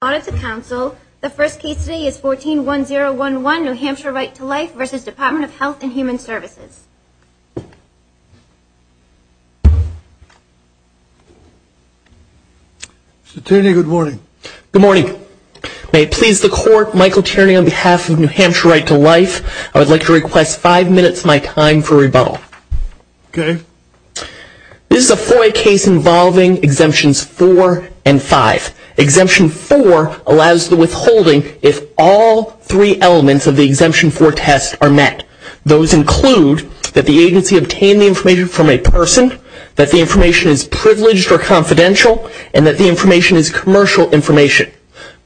Services. Mr. Tierney, good morning. Good morning. May it please the Court, Michael Tierney on behalf of New Hampshire Right to Life. I would like to request five minutes of my time for rebuttal. Okay. This is a FOIA case involving Exemptions 4 and 5. Exemption 5 is a FOIA case involving Exemption 4. Exemption 4 allows the withholding if all three elements of the Exemption 4 test are met. Those include that the agency obtained the information from a person, that the information is privileged or confidential, and that the information is commercial information.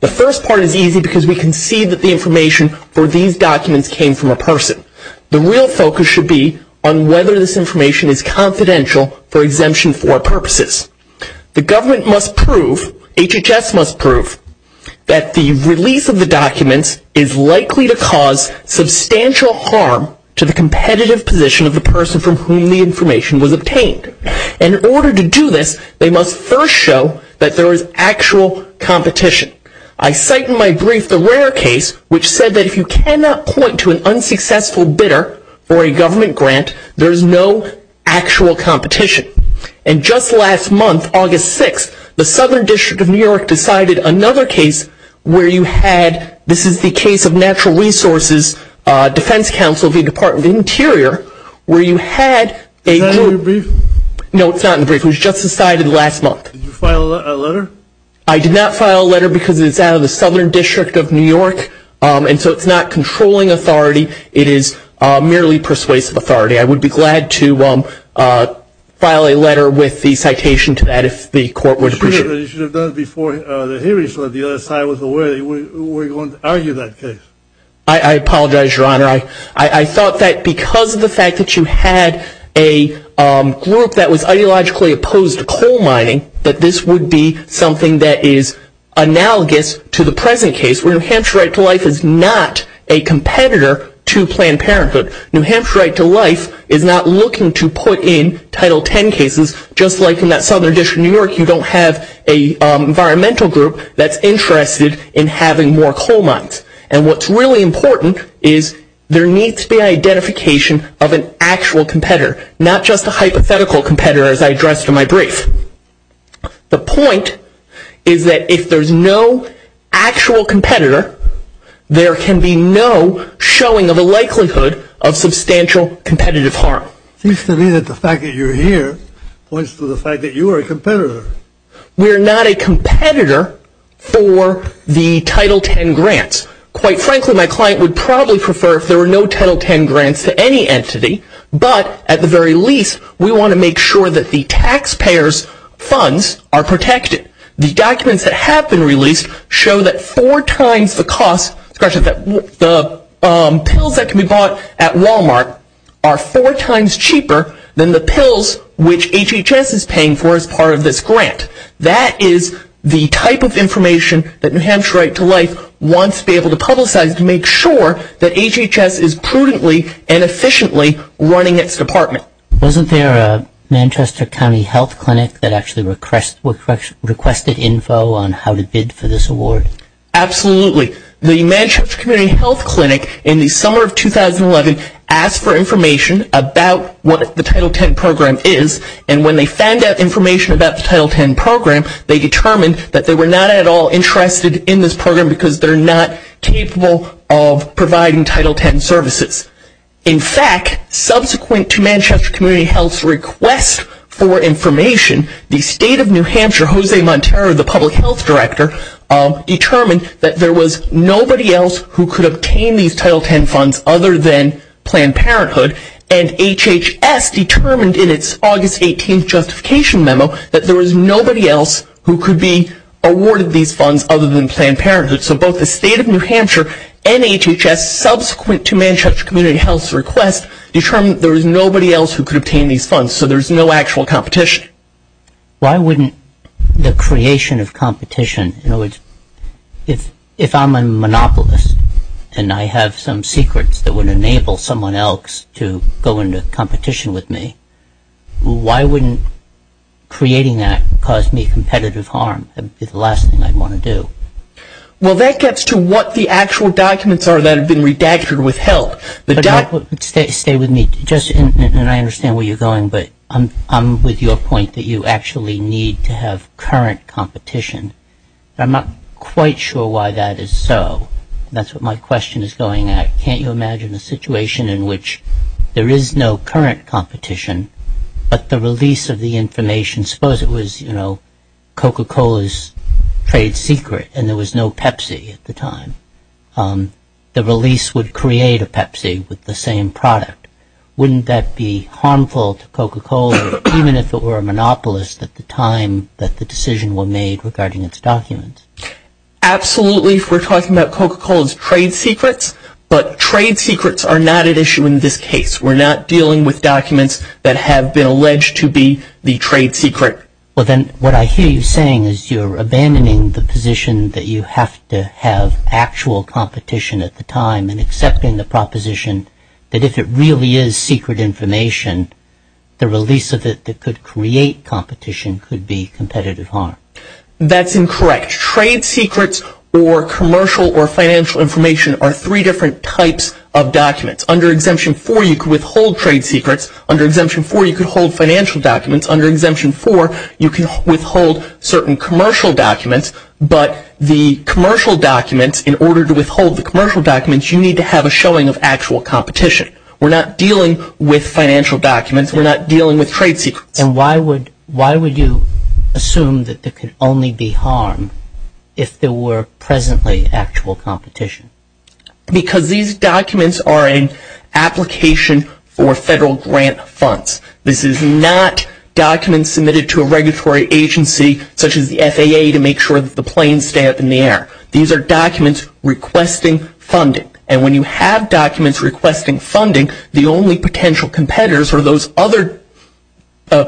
The first part is easy because we can see that the information for these documents came from a person. The real focus should be on whether this information is confidential for the release of the documents is likely to cause substantial harm to the competitive position of the person from whom the information was obtained. In order to do this, they must first show that there is actual competition. I cite in my brief the rare case which said that if you cannot point to an unsuccessful bidder for a government grant, there is no actual competition. And just last month, August 6th, the Southern District of New York decided another case where you had, this is the case of Natural Resources Defense Council v. Department of Interior, where you had a... Is that in your brief? No, it's not in the brief. It was just decided last month. Did you file a letter? I did not file a letter because it's out of the Southern District of New York, and so it's not controlling authority. It is merely persuasive authority. I would be glad to file a letter with the citation to that if the court would appreciate it. You should have done it before the hearing so that the other side was aware that you were going to argue that case. I apologize, Your Honor. I thought that because of the fact that you had a group that was ideologically opposed to coal mining, that this would be something that is analogous to the present case where New Hampshire Right to Life is not a competitor to Planned Parenthood. New Hampshire Right to Life is not looking to put in Title X cases, just like in that Southern District of New York, you don't have an environmental group that's interested in having more coal mines. And what's really important is there needs to be an identification of an actual competitor, not just a hypothetical competitor as I addressed in my brief. The point is that if there's no actual competitor, there can be no showing of a likelihood of substantial competitive harm. It seems to me that the fact that you're here points to the fact that you are a competitor. We're not a competitor for the Title X grants. Quite frankly, my client would probably prefer if there were no Title X grants to any entity, but at the very least, we want to make sure that the taxpayers' funds are protected. The documents that have been released show that four times the cost, the pills that can be bought at Walmart are four times cheaper than the pills which HHS is paying for as part of this grant. That is the type of information that New Hampshire Right to Life wants to be able to publicize to make sure that HHS is prudently and efficiently running its department. Wasn't there a Manchester County Health Clinic that actually requested info on how to bid for this award? Absolutely. The Manchester Community Health Clinic in the summer of 2011 asked for information about what the Title X program is. When they found out information about the Title X program, they determined that they were not at all interested in this program because they're not capable of providing Title X services. In fact, subsequent to Manchester Community Health's request for information, the State of New Hampshire, Jose Montero, the Public Health Director, determined that there was nobody else who could obtain these Title X funds other than Planned Parenthood, and HHS determined in its August 18th justification memo that there was nobody else who could be awarded these funds other than Planned Parenthood. So both the State of New Hampshire and HHS, subsequent to Manchester Community Health's request, determined there was nobody else who could obtain these funds, so there's no actual competition. Why wouldn't the creation of competition, in other words, if I'm a monopolist and I have some secrets that would enable someone else to go into competition with me, why wouldn't creating that cause me competitive harm? That would be the last thing I'd want to do. Well, that gets to what the actual documents are that have been redacted with help. Stay with me, and I understand where you're going, but I'm with your point that you actually need to have current competition. I'm not quite sure why that is so. That's what my question is going at. Can't you imagine a situation in which there is no current competition, but the release of the information, suppose it was Coca-Cola's trade secret and there was no Pepsi at the time, the release would create a Pepsi with the same product. Wouldn't that be harmful to Coca-Cola, even if it were a monopolist at the time that the decision was made regarding its documents? Absolutely, if we're talking about Coca-Cola's trade secrets, but trade secrets are not at issue in this case. We're not dealing with documents that have been alleged to be the trade secret. Well, then what I hear you saying is you're abandoning the position that you have to have actual competition at the time and accepting the proposition that if it really is secret information, the release of it that could create competition could be competitive harm. That's incorrect. Trade secrets or commercial or financial information are three different types of documents. Under Exemption 4, you could withhold trade secrets. Under Exemption 4, you could hold financial documents. Under Exemption 4, you can withhold certain commercial documents, but the commercial documents, in order to withhold the commercial documents, you need to have a showing of actual competition. We're not dealing with financial documents. We're not dealing with trade secrets. And why would you assume that there could only be harm if there were presently actual competition? Because these documents are an application for federal grant funds. This is not documents submitted to a regulatory agency such as the FAA to make sure that the planes stay up in the air. These are documents requesting funding. And when you have documents requesting funding, the only potential competitors are those other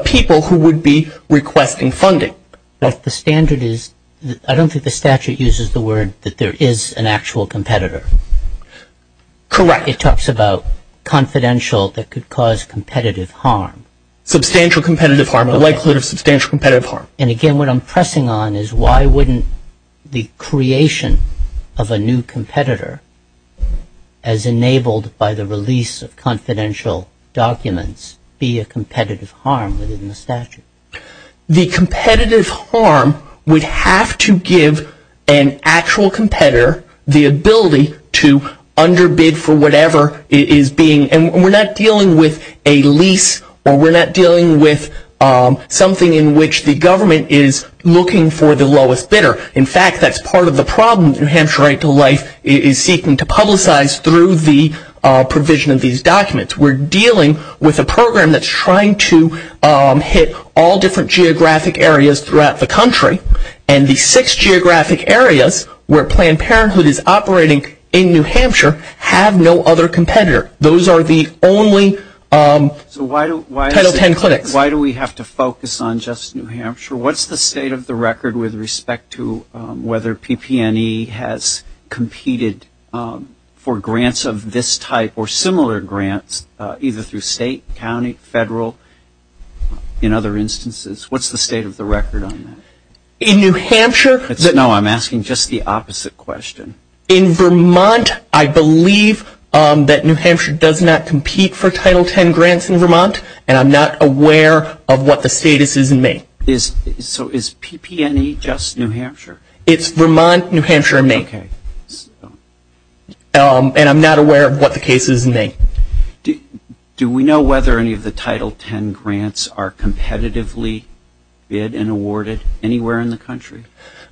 people who would be requesting funding. But the standard is, I don't think the statute uses the word that there is an actual competitor. Correct. It talks about confidential that could cause competitive harm. Substantial competitive harm, likelihood of substantial competitive harm. And again, what I'm pressing on is why wouldn't the creation of a new competitor as enabled by the release of confidential documents be a competitive harm within the statute? The competitive harm would have to give an actual competitor the ability to underbid for whatever it is being. And we're not dealing with a lease, or we're not dealing with something in which the government is looking for the lowest bidder. In fact, that's part of the problem that New Hampshire Right to Life is seeking to publicize through the provision of these documents. We're dealing with a program that's trying to hit all different geographic areas throughout the country. And the six geographic areas where Planned Parenthood is operating in New Hampshire have no other competitor. Those are the only Title X clinics. So why do we have to focus on just New Hampshire? What's the state of the record with respect to whether PP&E has competed for grants of this type or similar grants, either through state, county, federal, in other instances? What's the state of the record on that? No, I'm asking just the opposite question. In Vermont, I believe that New Hampshire does not compete for Title X grants in Vermont, and I'm not aware of what the status is in May. So is PP&E just New Hampshire? It's Vermont, New Hampshire, and May. And I'm not aware of what the case is in May. Do we know whether any of the Title X grants are competitively bid and awarded anywhere in the country?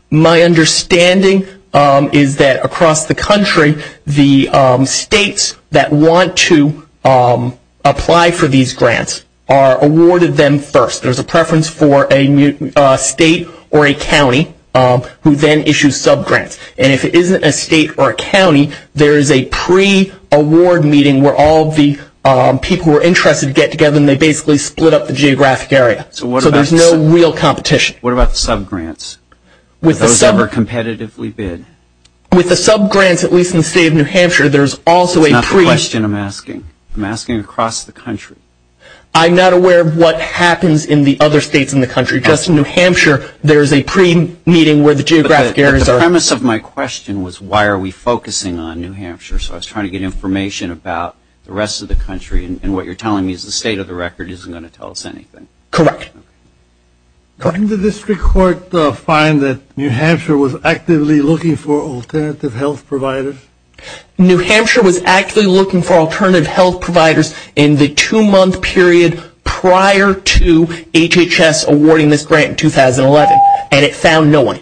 My understanding is that across the country, the states that want to apply for these grants are awarded them first. There's a preference for a state or a county who then issues subgrants. And if it isn't a state or a county, there is a pre-award meeting where all the people who are interested get together, and they basically split up the geographic area. So there's no real competition. What about the subgrants? Are those ever competitively bid? With the subgrants, at least in the state of New Hampshire, there's also a pre- That's not the question I'm asking. I'm asking across the country. I'm not aware of what happens in the other states in the country. Just in New Hampshire, there's a pre-meeting where the geographic areas are. The premise of my question was why are we focusing on New Hampshire? So I was trying to get information about the rest of the country, and what you're telling me is the state of the record isn't going to tell us anything. Correct. Couldn't the district court find that New Hampshire was actively looking for alternative health providers? New Hampshire was actively looking for alternative health providers in the two-month period prior to HHS awarding this grant in 2011, and it found no one.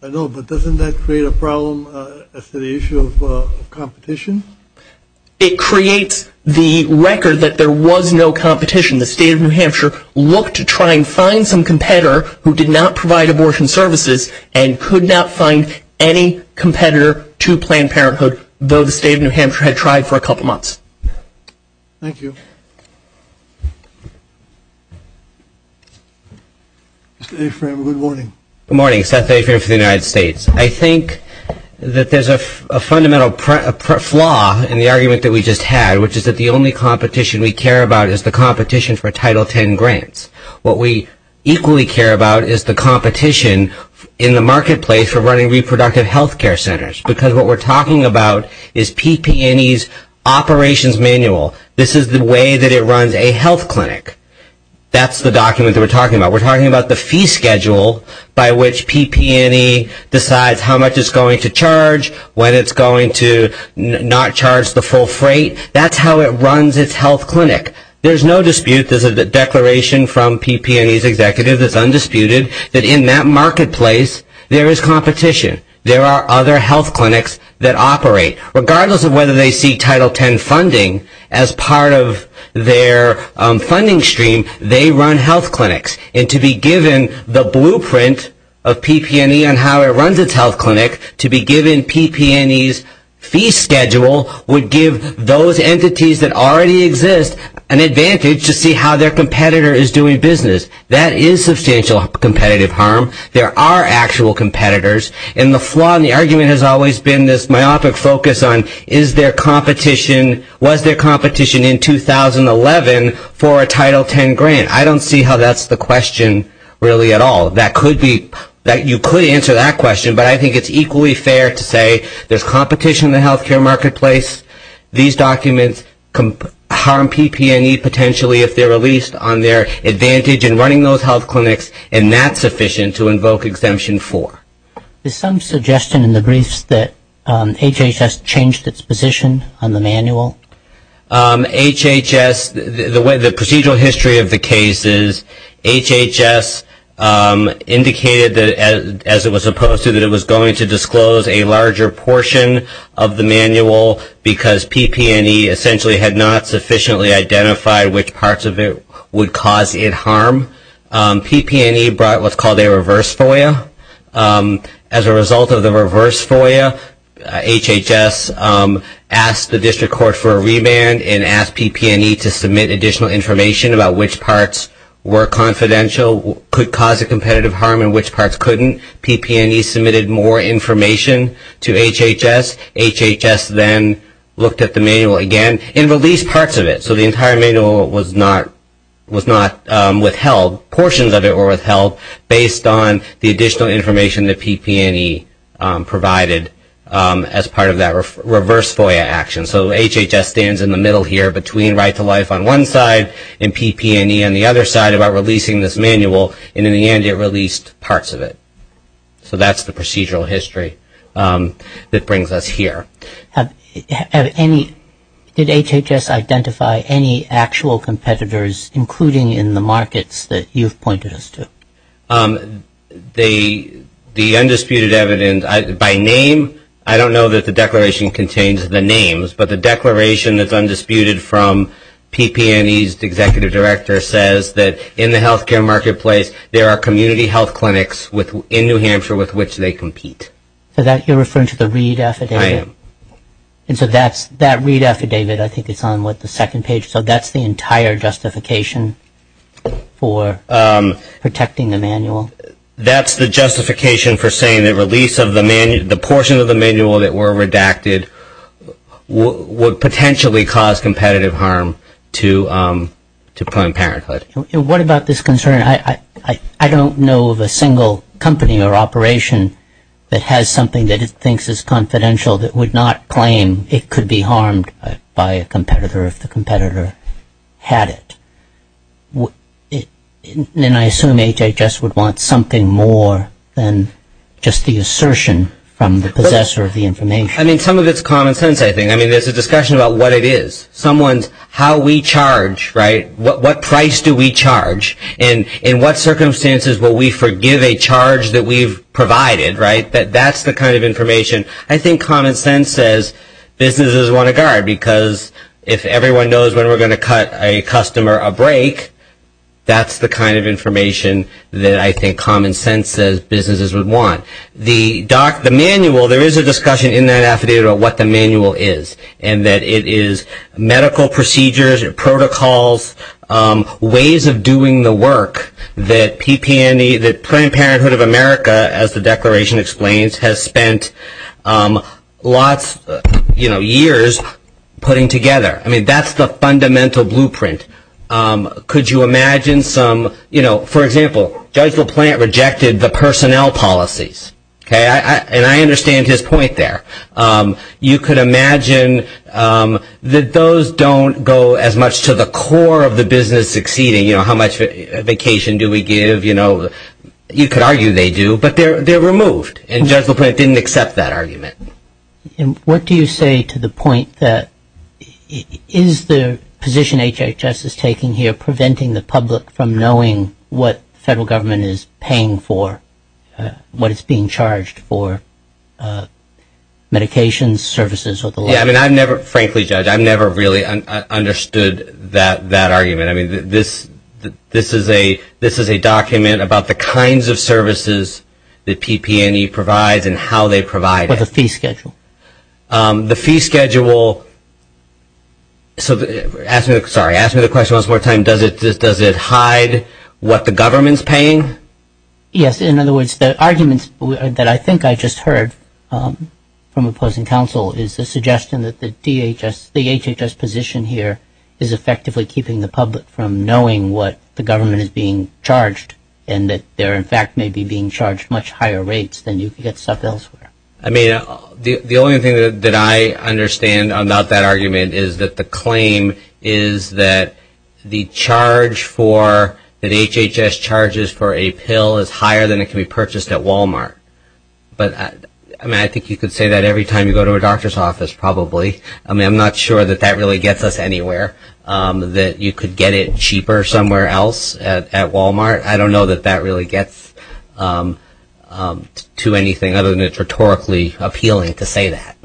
I know, but doesn't that create a problem as to the issue of competition? It creates the record that there was no competition. The state of New Hampshire looked to try and find some competitor who did not provide abortion services and could not find any competitor to Planned Parenthood, though the state of New Hampshire had tried for a couple months. Thank you. Mr. Afram, good morning. Good morning. Seth Afram for the United States. I think that there's a fundamental flaw in the argument that we just had, which is that the only competition we care about is the competition for Title X grants. What we equally care about is the competition in the marketplace for running reproductive health care centers, because what we're talking about is PP&E's operations manual. This is the way that it runs a health clinic. That's the document that we're talking about. We're talking about the fee schedule by which PP&E decides how much it's going to charge, when it's going to not charge the full freight. That's how it runs its health clinic. There's no dispute. There's a declaration from PP&E's executive that's undisputed, that in that marketplace there is competition. There are other health clinics that operate. Regardless of whether they see Title X funding as part of their funding stream, they run health clinics. And to be given the blueprint of PP&E and how it runs its health clinic, to be given PP&E's fee schedule would give those entities that already exist an advantage to see how their competitor is doing business. That is substantial competitive harm. There are actual competitors. And the flaw in the argument has always been this myopic focus on, was there competition in 2011 for a Title X grant? I don't see how that's the question really at all. You could answer that question, but I think it's equally fair to say there's competition in the health care marketplace. These documents harm PP&E potentially if they're released on their advantage in running those health clinics, and that's sufficient to invoke Exemption 4. Is some suggestion in the briefs that HHS changed its position on the manual? HHS, the procedural history of the case is HHS indicated, as it was opposed to, that it was going to disclose a larger portion of the manual because PP&E essentially had not sufficiently identified which parts of it would cause it harm. PP&E brought what's called a reverse FOIA. As a result of the reverse FOIA, HHS asked the district court for a remand and asked PP&E to submit additional information about which parts were confidential, could cause a competitive harm, and which parts couldn't. PP&E submitted more information to HHS. HHS then looked at the manual again and released parts of it. So the entire manual was not withheld. Portions of it were withheld based on the additional information that PP&E provided as part of that reverse FOIA action. So HHS stands in the middle here between Right to Life on one side and PP&E on the other side about releasing this manual, and in the end it released parts of it. So that's the procedural history that brings us here. Did HHS identify any actual competitors, including in the markets that you've pointed us to? The undisputed evidence, by name, I don't know that the declaration contains the names, but the declaration that's undisputed from PP&E's executive director says that in the healthcare marketplace there are community health clinics in New Hampshire with which they compete. So you're referring to the read affidavit? I am. And so that read affidavit, I think it's on, what, the second page? So that's the entire justification for protecting the manual? That's the justification for saying that the portion of the manual that were redacted would potentially cause competitive harm to Planned Parenthood. What about this concern? I don't know of a single company or operation that has something that it thinks is confidential that would not claim it could be harmed by a competitor if the competitor had it. And I assume HHS would want something more than just the assertion from the possessor of the information. I mean, some of it's common sense, I think. I mean, there's a discussion about what it is. Someone's how we charge, right? What price do we charge? And in what circumstances will we forgive a charge that we've provided, right? That's the kind of information I think common sense says businesses want to guard because if everyone knows when we're going to cut a customer a break, that's the kind of information that I think common sense says businesses would want. The manual, there is a discussion in that affidavit about what the manual is and that it is medical procedures and protocols, ways of doing the work that PP&E, that Planned Parenthood of America, as the declaration explains, has spent lots of years putting together. I mean, that's the fundamental blueprint. Could you imagine some, you know, for example, Judge LaPlante rejected the personnel policies. And I understand his point there. You could imagine that those don't go as much to the core of the business succeeding. You know, how much vacation do we give? You know, you could argue they do, but they're removed. And Judge LaPlante didn't accept that argument. And what do you say to the point that is the position HHS is taking here preventing the public from knowing what the federal government is paying for, what it's being charged for, medications, services? Yeah, I mean, I've never, frankly, Judge, I've never really understood that argument. I mean, this is a document about the kinds of services that PP&E provides and how they provide it. What's the fee schedule? The fee schedule, so ask me, sorry, ask me the question once more time. Does it hide what the government's paying? Yes. In other words, the arguments that I think I just heard from opposing counsel is the suggestion that the DHS, the HHS position here is effectively keeping the public from knowing what the government is being charged and that they're, in fact, maybe being charged much higher rates than you could get stuff elsewhere. I mean, the only thing that I understand about that argument is that the claim is that the charge for, that HHS charges for a pill is higher than it can be purchased at Walmart. But, I mean, I think you could say that every time you go to a doctor's office probably. I mean, I'm not sure that that really gets us anywhere, that you could get it cheaper somewhere else at Walmart. I don't know that that really gets to anything other than it's rhetorically appealing to say that.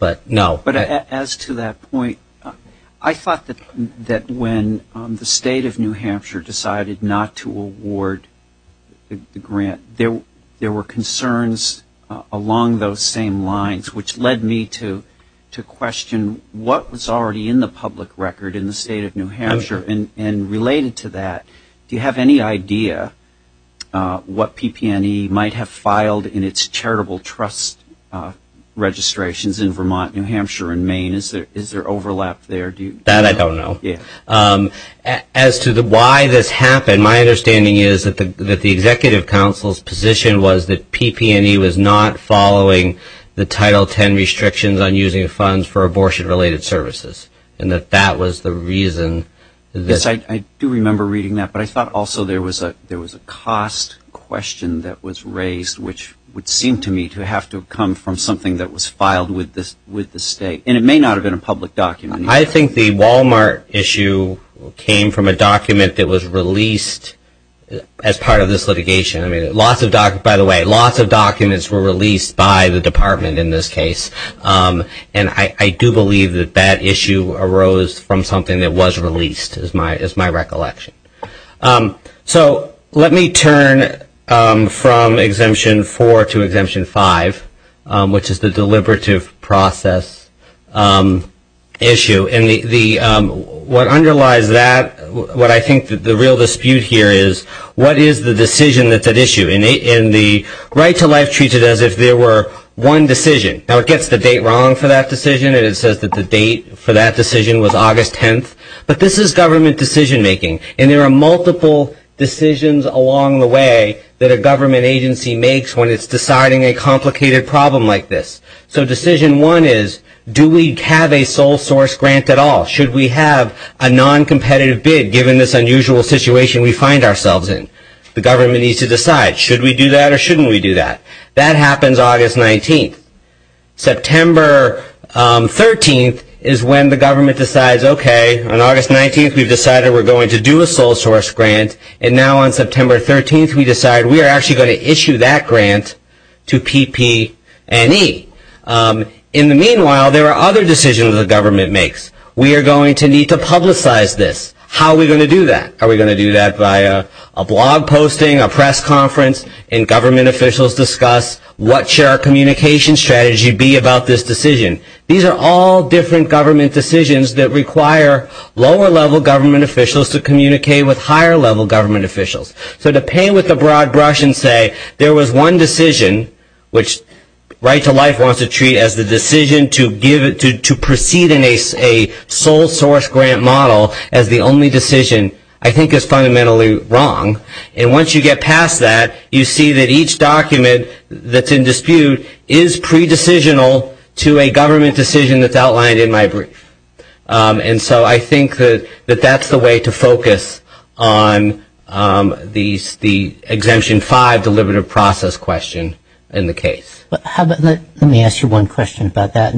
But, no. But as to that point, I thought that when the state of New Hampshire decided not to award the grant, there were concerns along those same lines which led me to question what was already in the public record in the state of Do you have any idea what PP&E might have filed in its charitable trust registrations in Vermont, New Hampshire, and Maine? Is there overlap there? That I don't know. As to why this happened, my understanding is that the Executive Council's position was that PP&E was not following the Title X restrictions on using funds for abortion-related services and that that was the reason. Yes, I do remember reading that, but I thought also there was a cost question that was raised, which would seem to me to have to come from something that was filed with the state. And it may not have been a public document. I think the Walmart issue came from a document that was released as part of this litigation. By the way, lots of documents were released by the department in this case. And I do believe that that issue arose from something that was released is my recollection. So let me turn from Exemption 4 to Exemption 5, which is the deliberative process issue. And what underlies that, what I think the real dispute here is, what is the decision that's at issue? And the right to life treats it as if there were one decision. Now, it gets the date wrong for that decision, and it says that the date for that decision was August 10th. But this is government decision-making, and there are multiple decisions along the way that a government agency makes when it's deciding a complicated problem like this. So decision one is, do we have a sole source grant at all? Should we have a non-competitive bid given this unusual situation we find ourselves in? The government needs to decide, should we do that or shouldn't we do that? That happens August 19th. September 13th is when the government decides, okay, on August 19th we've decided we're going to do a sole source grant, and now on September 13th we decide we are actually going to issue that grant to PP&E. In the meanwhile, there are other decisions the government makes. We are going to need to publicize this. How are we going to do that? Are we going to do that via a blog posting, a press conference, and government officials discuss, what should our communication strategy be about this decision? These are all different government decisions that require lower-level government officials to communicate with higher-level government officials. So to paint with a broad brush and say there was one decision, which Right to Life wants to treat as the decision to proceed in a sole source grant model as the only decision, I think is fundamentally wrong. And once you get past that, you see that each document that's in dispute is pre-decisional to a government decision that's outlined in my brief. And so I think that that's the way to focus on the Exemption 5 Deliberative Process question in the case. Let me ask you one question about that.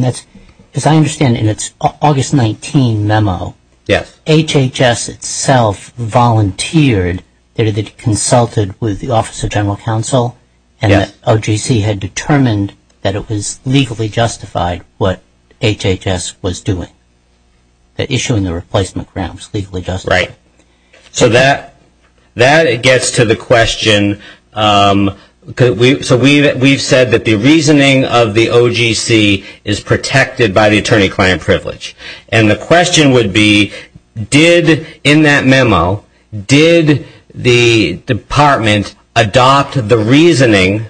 As I understand it, it's August 19 memo. HHS itself volunteered that it had consulted with the Office of General Counsel and that OGC had determined that it was legally justified what HHS was doing, that issuing the replacement grant was legally justified. Right. So that gets to the question. So we've said that the reasoning of the OGC is protected by the attorney-client privilege. And the question would be, in that memo, did the department adopt the reasoning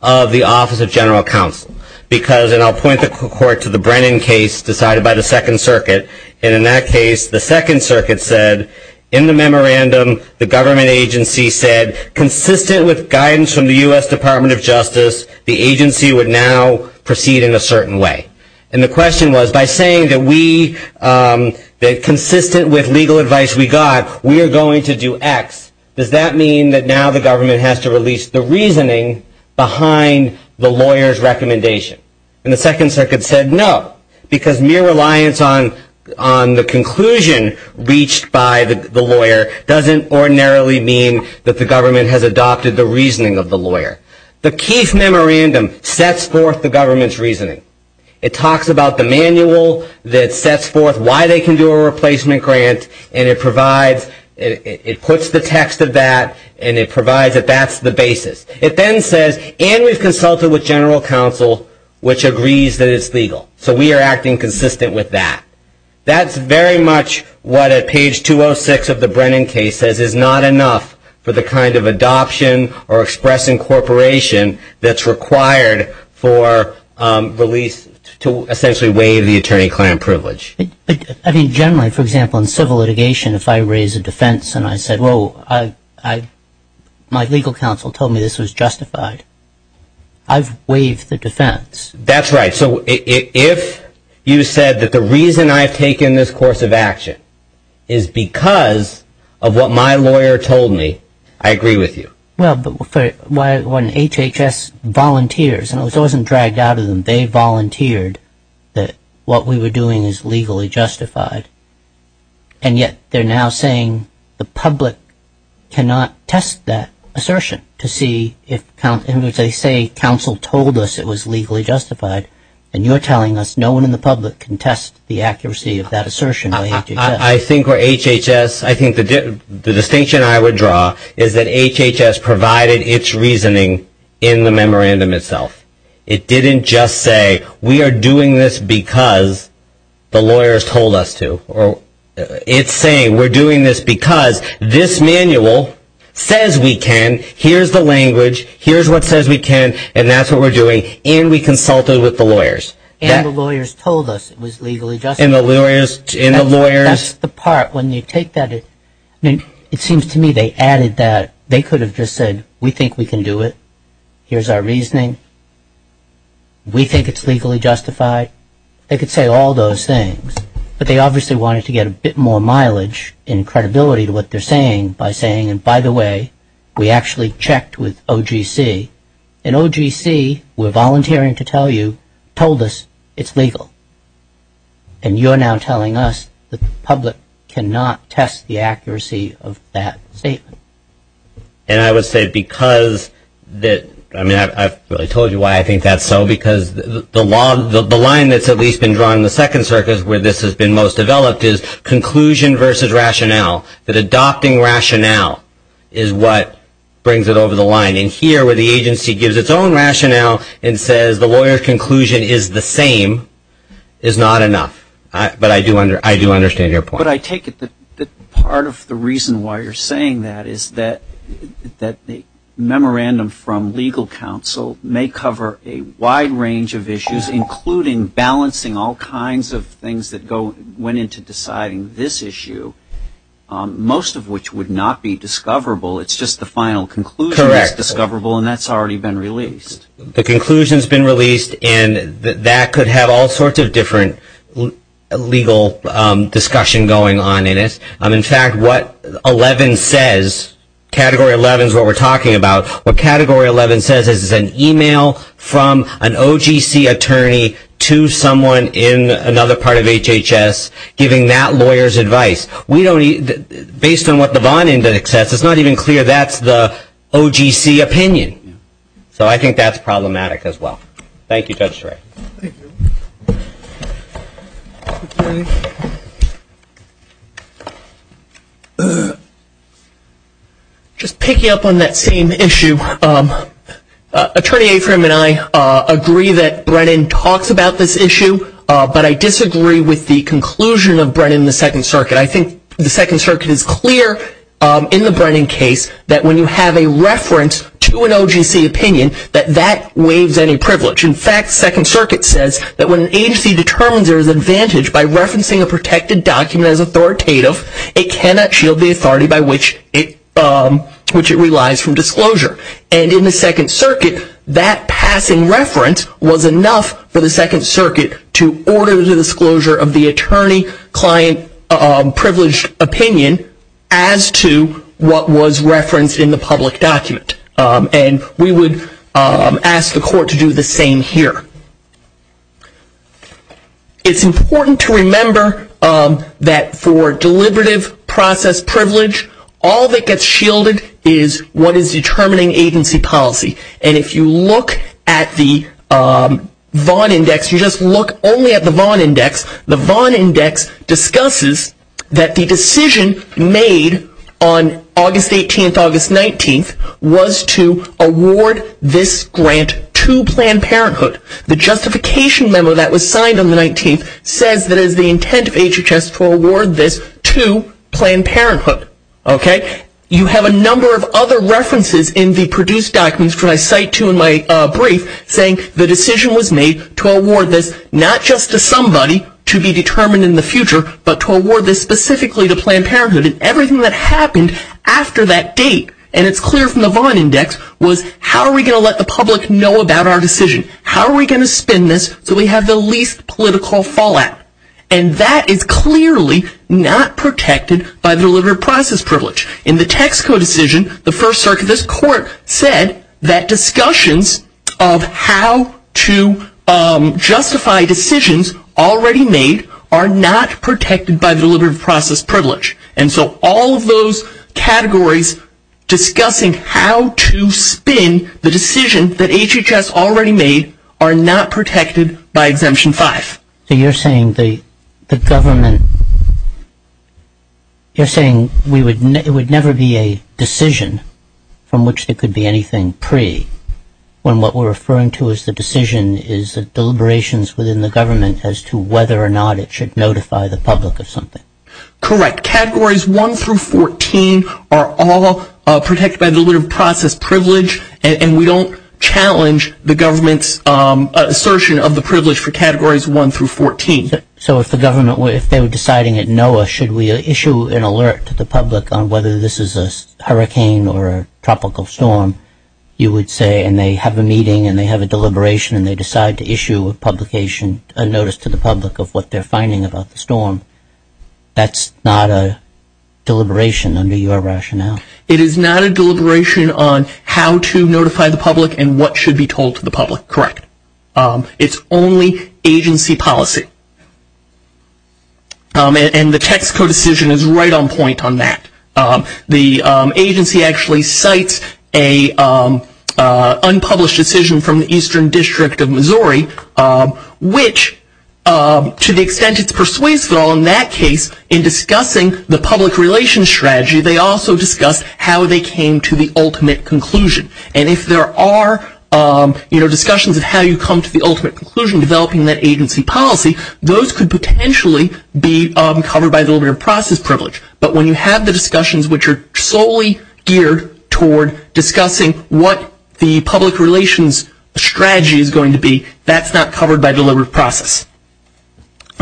of the Office of General Counsel? Because, and I'll point the court to the Brennan case decided by the Second Circuit, and in that case, the Second Circuit said, in the memorandum, the government agency said, consistent with guidance from the U.S. Department of Justice, the agency would now proceed in a certain way. And the question was, by saying that we, that consistent with legal advice we got, we are going to do X, does that mean that now the government has to release the reasoning behind the lawyer's recommendation? And the Second Circuit said, no, because mere reliance on the conclusion reached by the lawyer doesn't ordinarily mean that the government has adopted the reasoning of the lawyer. The Keith memorandum sets forth the government's reasoning. It talks about the manual that sets forth why they can do a replacement grant, and it provides, it puts the text of that, and it provides that that's the basis. It then says, and we've consulted with general counsel, which agrees that it's legal. So we are acting consistent with that. That's very much what at page 206 of the Brennan case says is not enough for the kind of adoption or expressing corporation that's required for release to essentially waive the attorney-client privilege. I mean, generally, for example, in civil litigation, if I raise a defense and I said, whoa, my legal counsel told me this was justified, I've waived the defense. That's right. So if you said that the reason I've taken this course of action is because of what my lawyer told me, I agree with you. Well, but when HHS volunteers, and I wasn't dragged out of them, they volunteered that what we were doing is legally justified, and yet they're now saying the public cannot test that assertion to see if they say counsel told us it was legally justified, and you're telling us no one in the public can test the accuracy of that assertion by HHS. I think where HHS, I think the distinction I would draw is that HHS provided its reasoning in the memorandum itself. It didn't just say we are doing this because the lawyers told us to. It's saying we're doing this because this manual says we can, here's the language, here's what says we can, and that's what we're doing, and we consulted with the lawyers. And the lawyers told us it was legally justified. And the lawyers. That's the part. When you take that, it seems to me they added that. They could have just said we think we can do it. Here's our reasoning. We think it's legally justified. They could say all those things, but they obviously wanted to get a bit more mileage and credibility to what they're saying by saying, and by the way, we actually checked with OGC, and OGC, we're volunteering to tell you, told us it's legal. And you're now telling us that the public cannot test the accuracy of that statement. And I would say because that, I mean, I've really told you why I think that's so, because the line that's at least been drawn in the Second Circuit, where this has been most developed, is conclusion versus rationale, that adopting rationale is what brings it over the line. And here, where the agency gives its own rationale and says the lawyer's conclusion is the same, is not enough. But I do understand your point. But I take it that part of the reason why you're saying that is that the memorandum from legal counsel may cover a wide range of issues, including balancing all kinds of things that went into deciding this issue, most of which would not be discoverable. It's just the final conclusion that's discoverable, and that's already been released. The conclusion's been released, and that could have all sorts of different legal discussion going on in it. In fact, what 11 says, Category 11 is what we're talking about. What Category 11 says is it's an e-mail from an OGC attorney to someone in another part of HHS, giving that lawyer's advice. Based on what the bond index says, it's not even clear that's the OGC opinion. So I think that's problematic as well. Thank you, Judge Stray. Just picking up on that same issue, Attorney Afram and I agree that Brennan talks about this issue, but I disagree with the conclusion of Brennan in the Second Circuit. I think the Second Circuit is clear in the Brennan case that when you have a reference to an OGC opinion, that that waives any privilege. In fact, Second Circuit says that when an agency determines there is advantage by referencing a protected document as authoritative, it cannot shield the authority by which it relies from disclosure. And in the Second Circuit, that passing reference was enough for the Second Circuit to order the disclosure of the attorney-client-privileged opinion as to what was referenced in the public document. And we would ask the Court to do the same here. It's important to remember that for deliberative process privilege, all that gets shielded is what is determining agency policy. And if you look at the Vaughn Index, you just look only at the Vaughn Index. The Vaughn Index discusses that the decision made on August 18th, August 19th, was to award this grant to Planned Parenthood. The justification memo that was signed on the 19th says that it is the intent of HHS to award this to Planned Parenthood. You have a number of other references in the produced documents that I cite to in my brief saying the decision was made to award this not just to somebody to be determined in the future, but to award this specifically to Planned Parenthood. And everything that happened after that date, and it's clear from the Vaughn Index, was how are we going to let the public know about our decision? How are we going to spin this so we have the least political fallout? And that is clearly not protected by the deliberative process privilege. In the Texco decision, the First Circuit of this Court said that discussions of how to justify decisions already made are not protected by the deliberative process privilege. And so all of those categories discussing how to spin the decision that HHS already made are not protected by Exemption 5. So you're saying the government, you're saying it would never be a decision from which it could be anything pre when what we're referring to as the decision is the deliberations within the government as to whether or not it should notify the public of something. Correct. Categories 1 through 14 are all protected by the deliberative process privilege, and we don't challenge the government's assertion of the privilege for categories 1 through 14. So if the government, if they were deciding at NOAA, should we issue an alert to the public on whether this is a hurricane or a tropical storm, you would say, and they have a meeting and they have a deliberation and they decide to issue a publication, a notice to the public of what they're finding about the storm. That's not a deliberation under your rationale. It is not a deliberation on how to notify the public and what should be told to the public. Correct. It's only agency policy. And the Texaco decision is right on point on that. The agency actually cites an unpublished decision from the Eastern District of Missouri, which to the extent it's persuasive in that case in discussing the public relations strategy, they also discussed how they came to the ultimate conclusion. And if there are, you know, discussions of how you come to the ultimate conclusion developing that agency policy, those could potentially be covered by deliberative process privilege. But when you have the discussions which are solely geared toward discussing what the public relations strategy is going to be, that's not covered by deliberative process.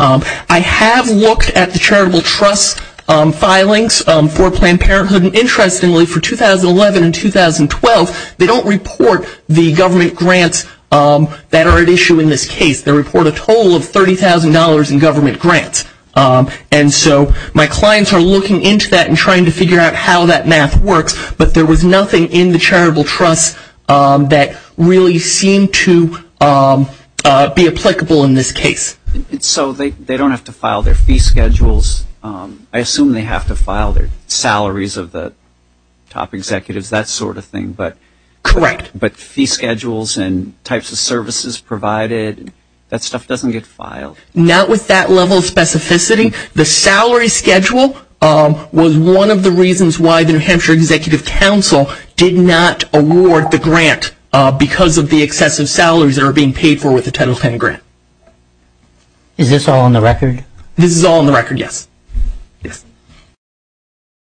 I have looked at the charitable trust filings for Planned Parenthood, and interestingly for 2011 and 2012, they don't report the government grants that are at issue in this case. They report a total of $30,000 in government grants. And so my clients are looking into that and trying to figure out how that math works, but there was nothing in the charitable trust that really seemed to be applicable in this case. So they don't have to file their fee schedules. I assume they have to file their salaries of the top executives, that sort of thing. Correct. But fee schedules and types of services provided, that stuff doesn't get filed. Not with that level of specificity. The salary schedule was one of the reasons why the New Hampshire Executive Council did not award the grant because of the excessive salaries that are being paid for with the Title X grant. Is this all on the record? This is all on the record, yes.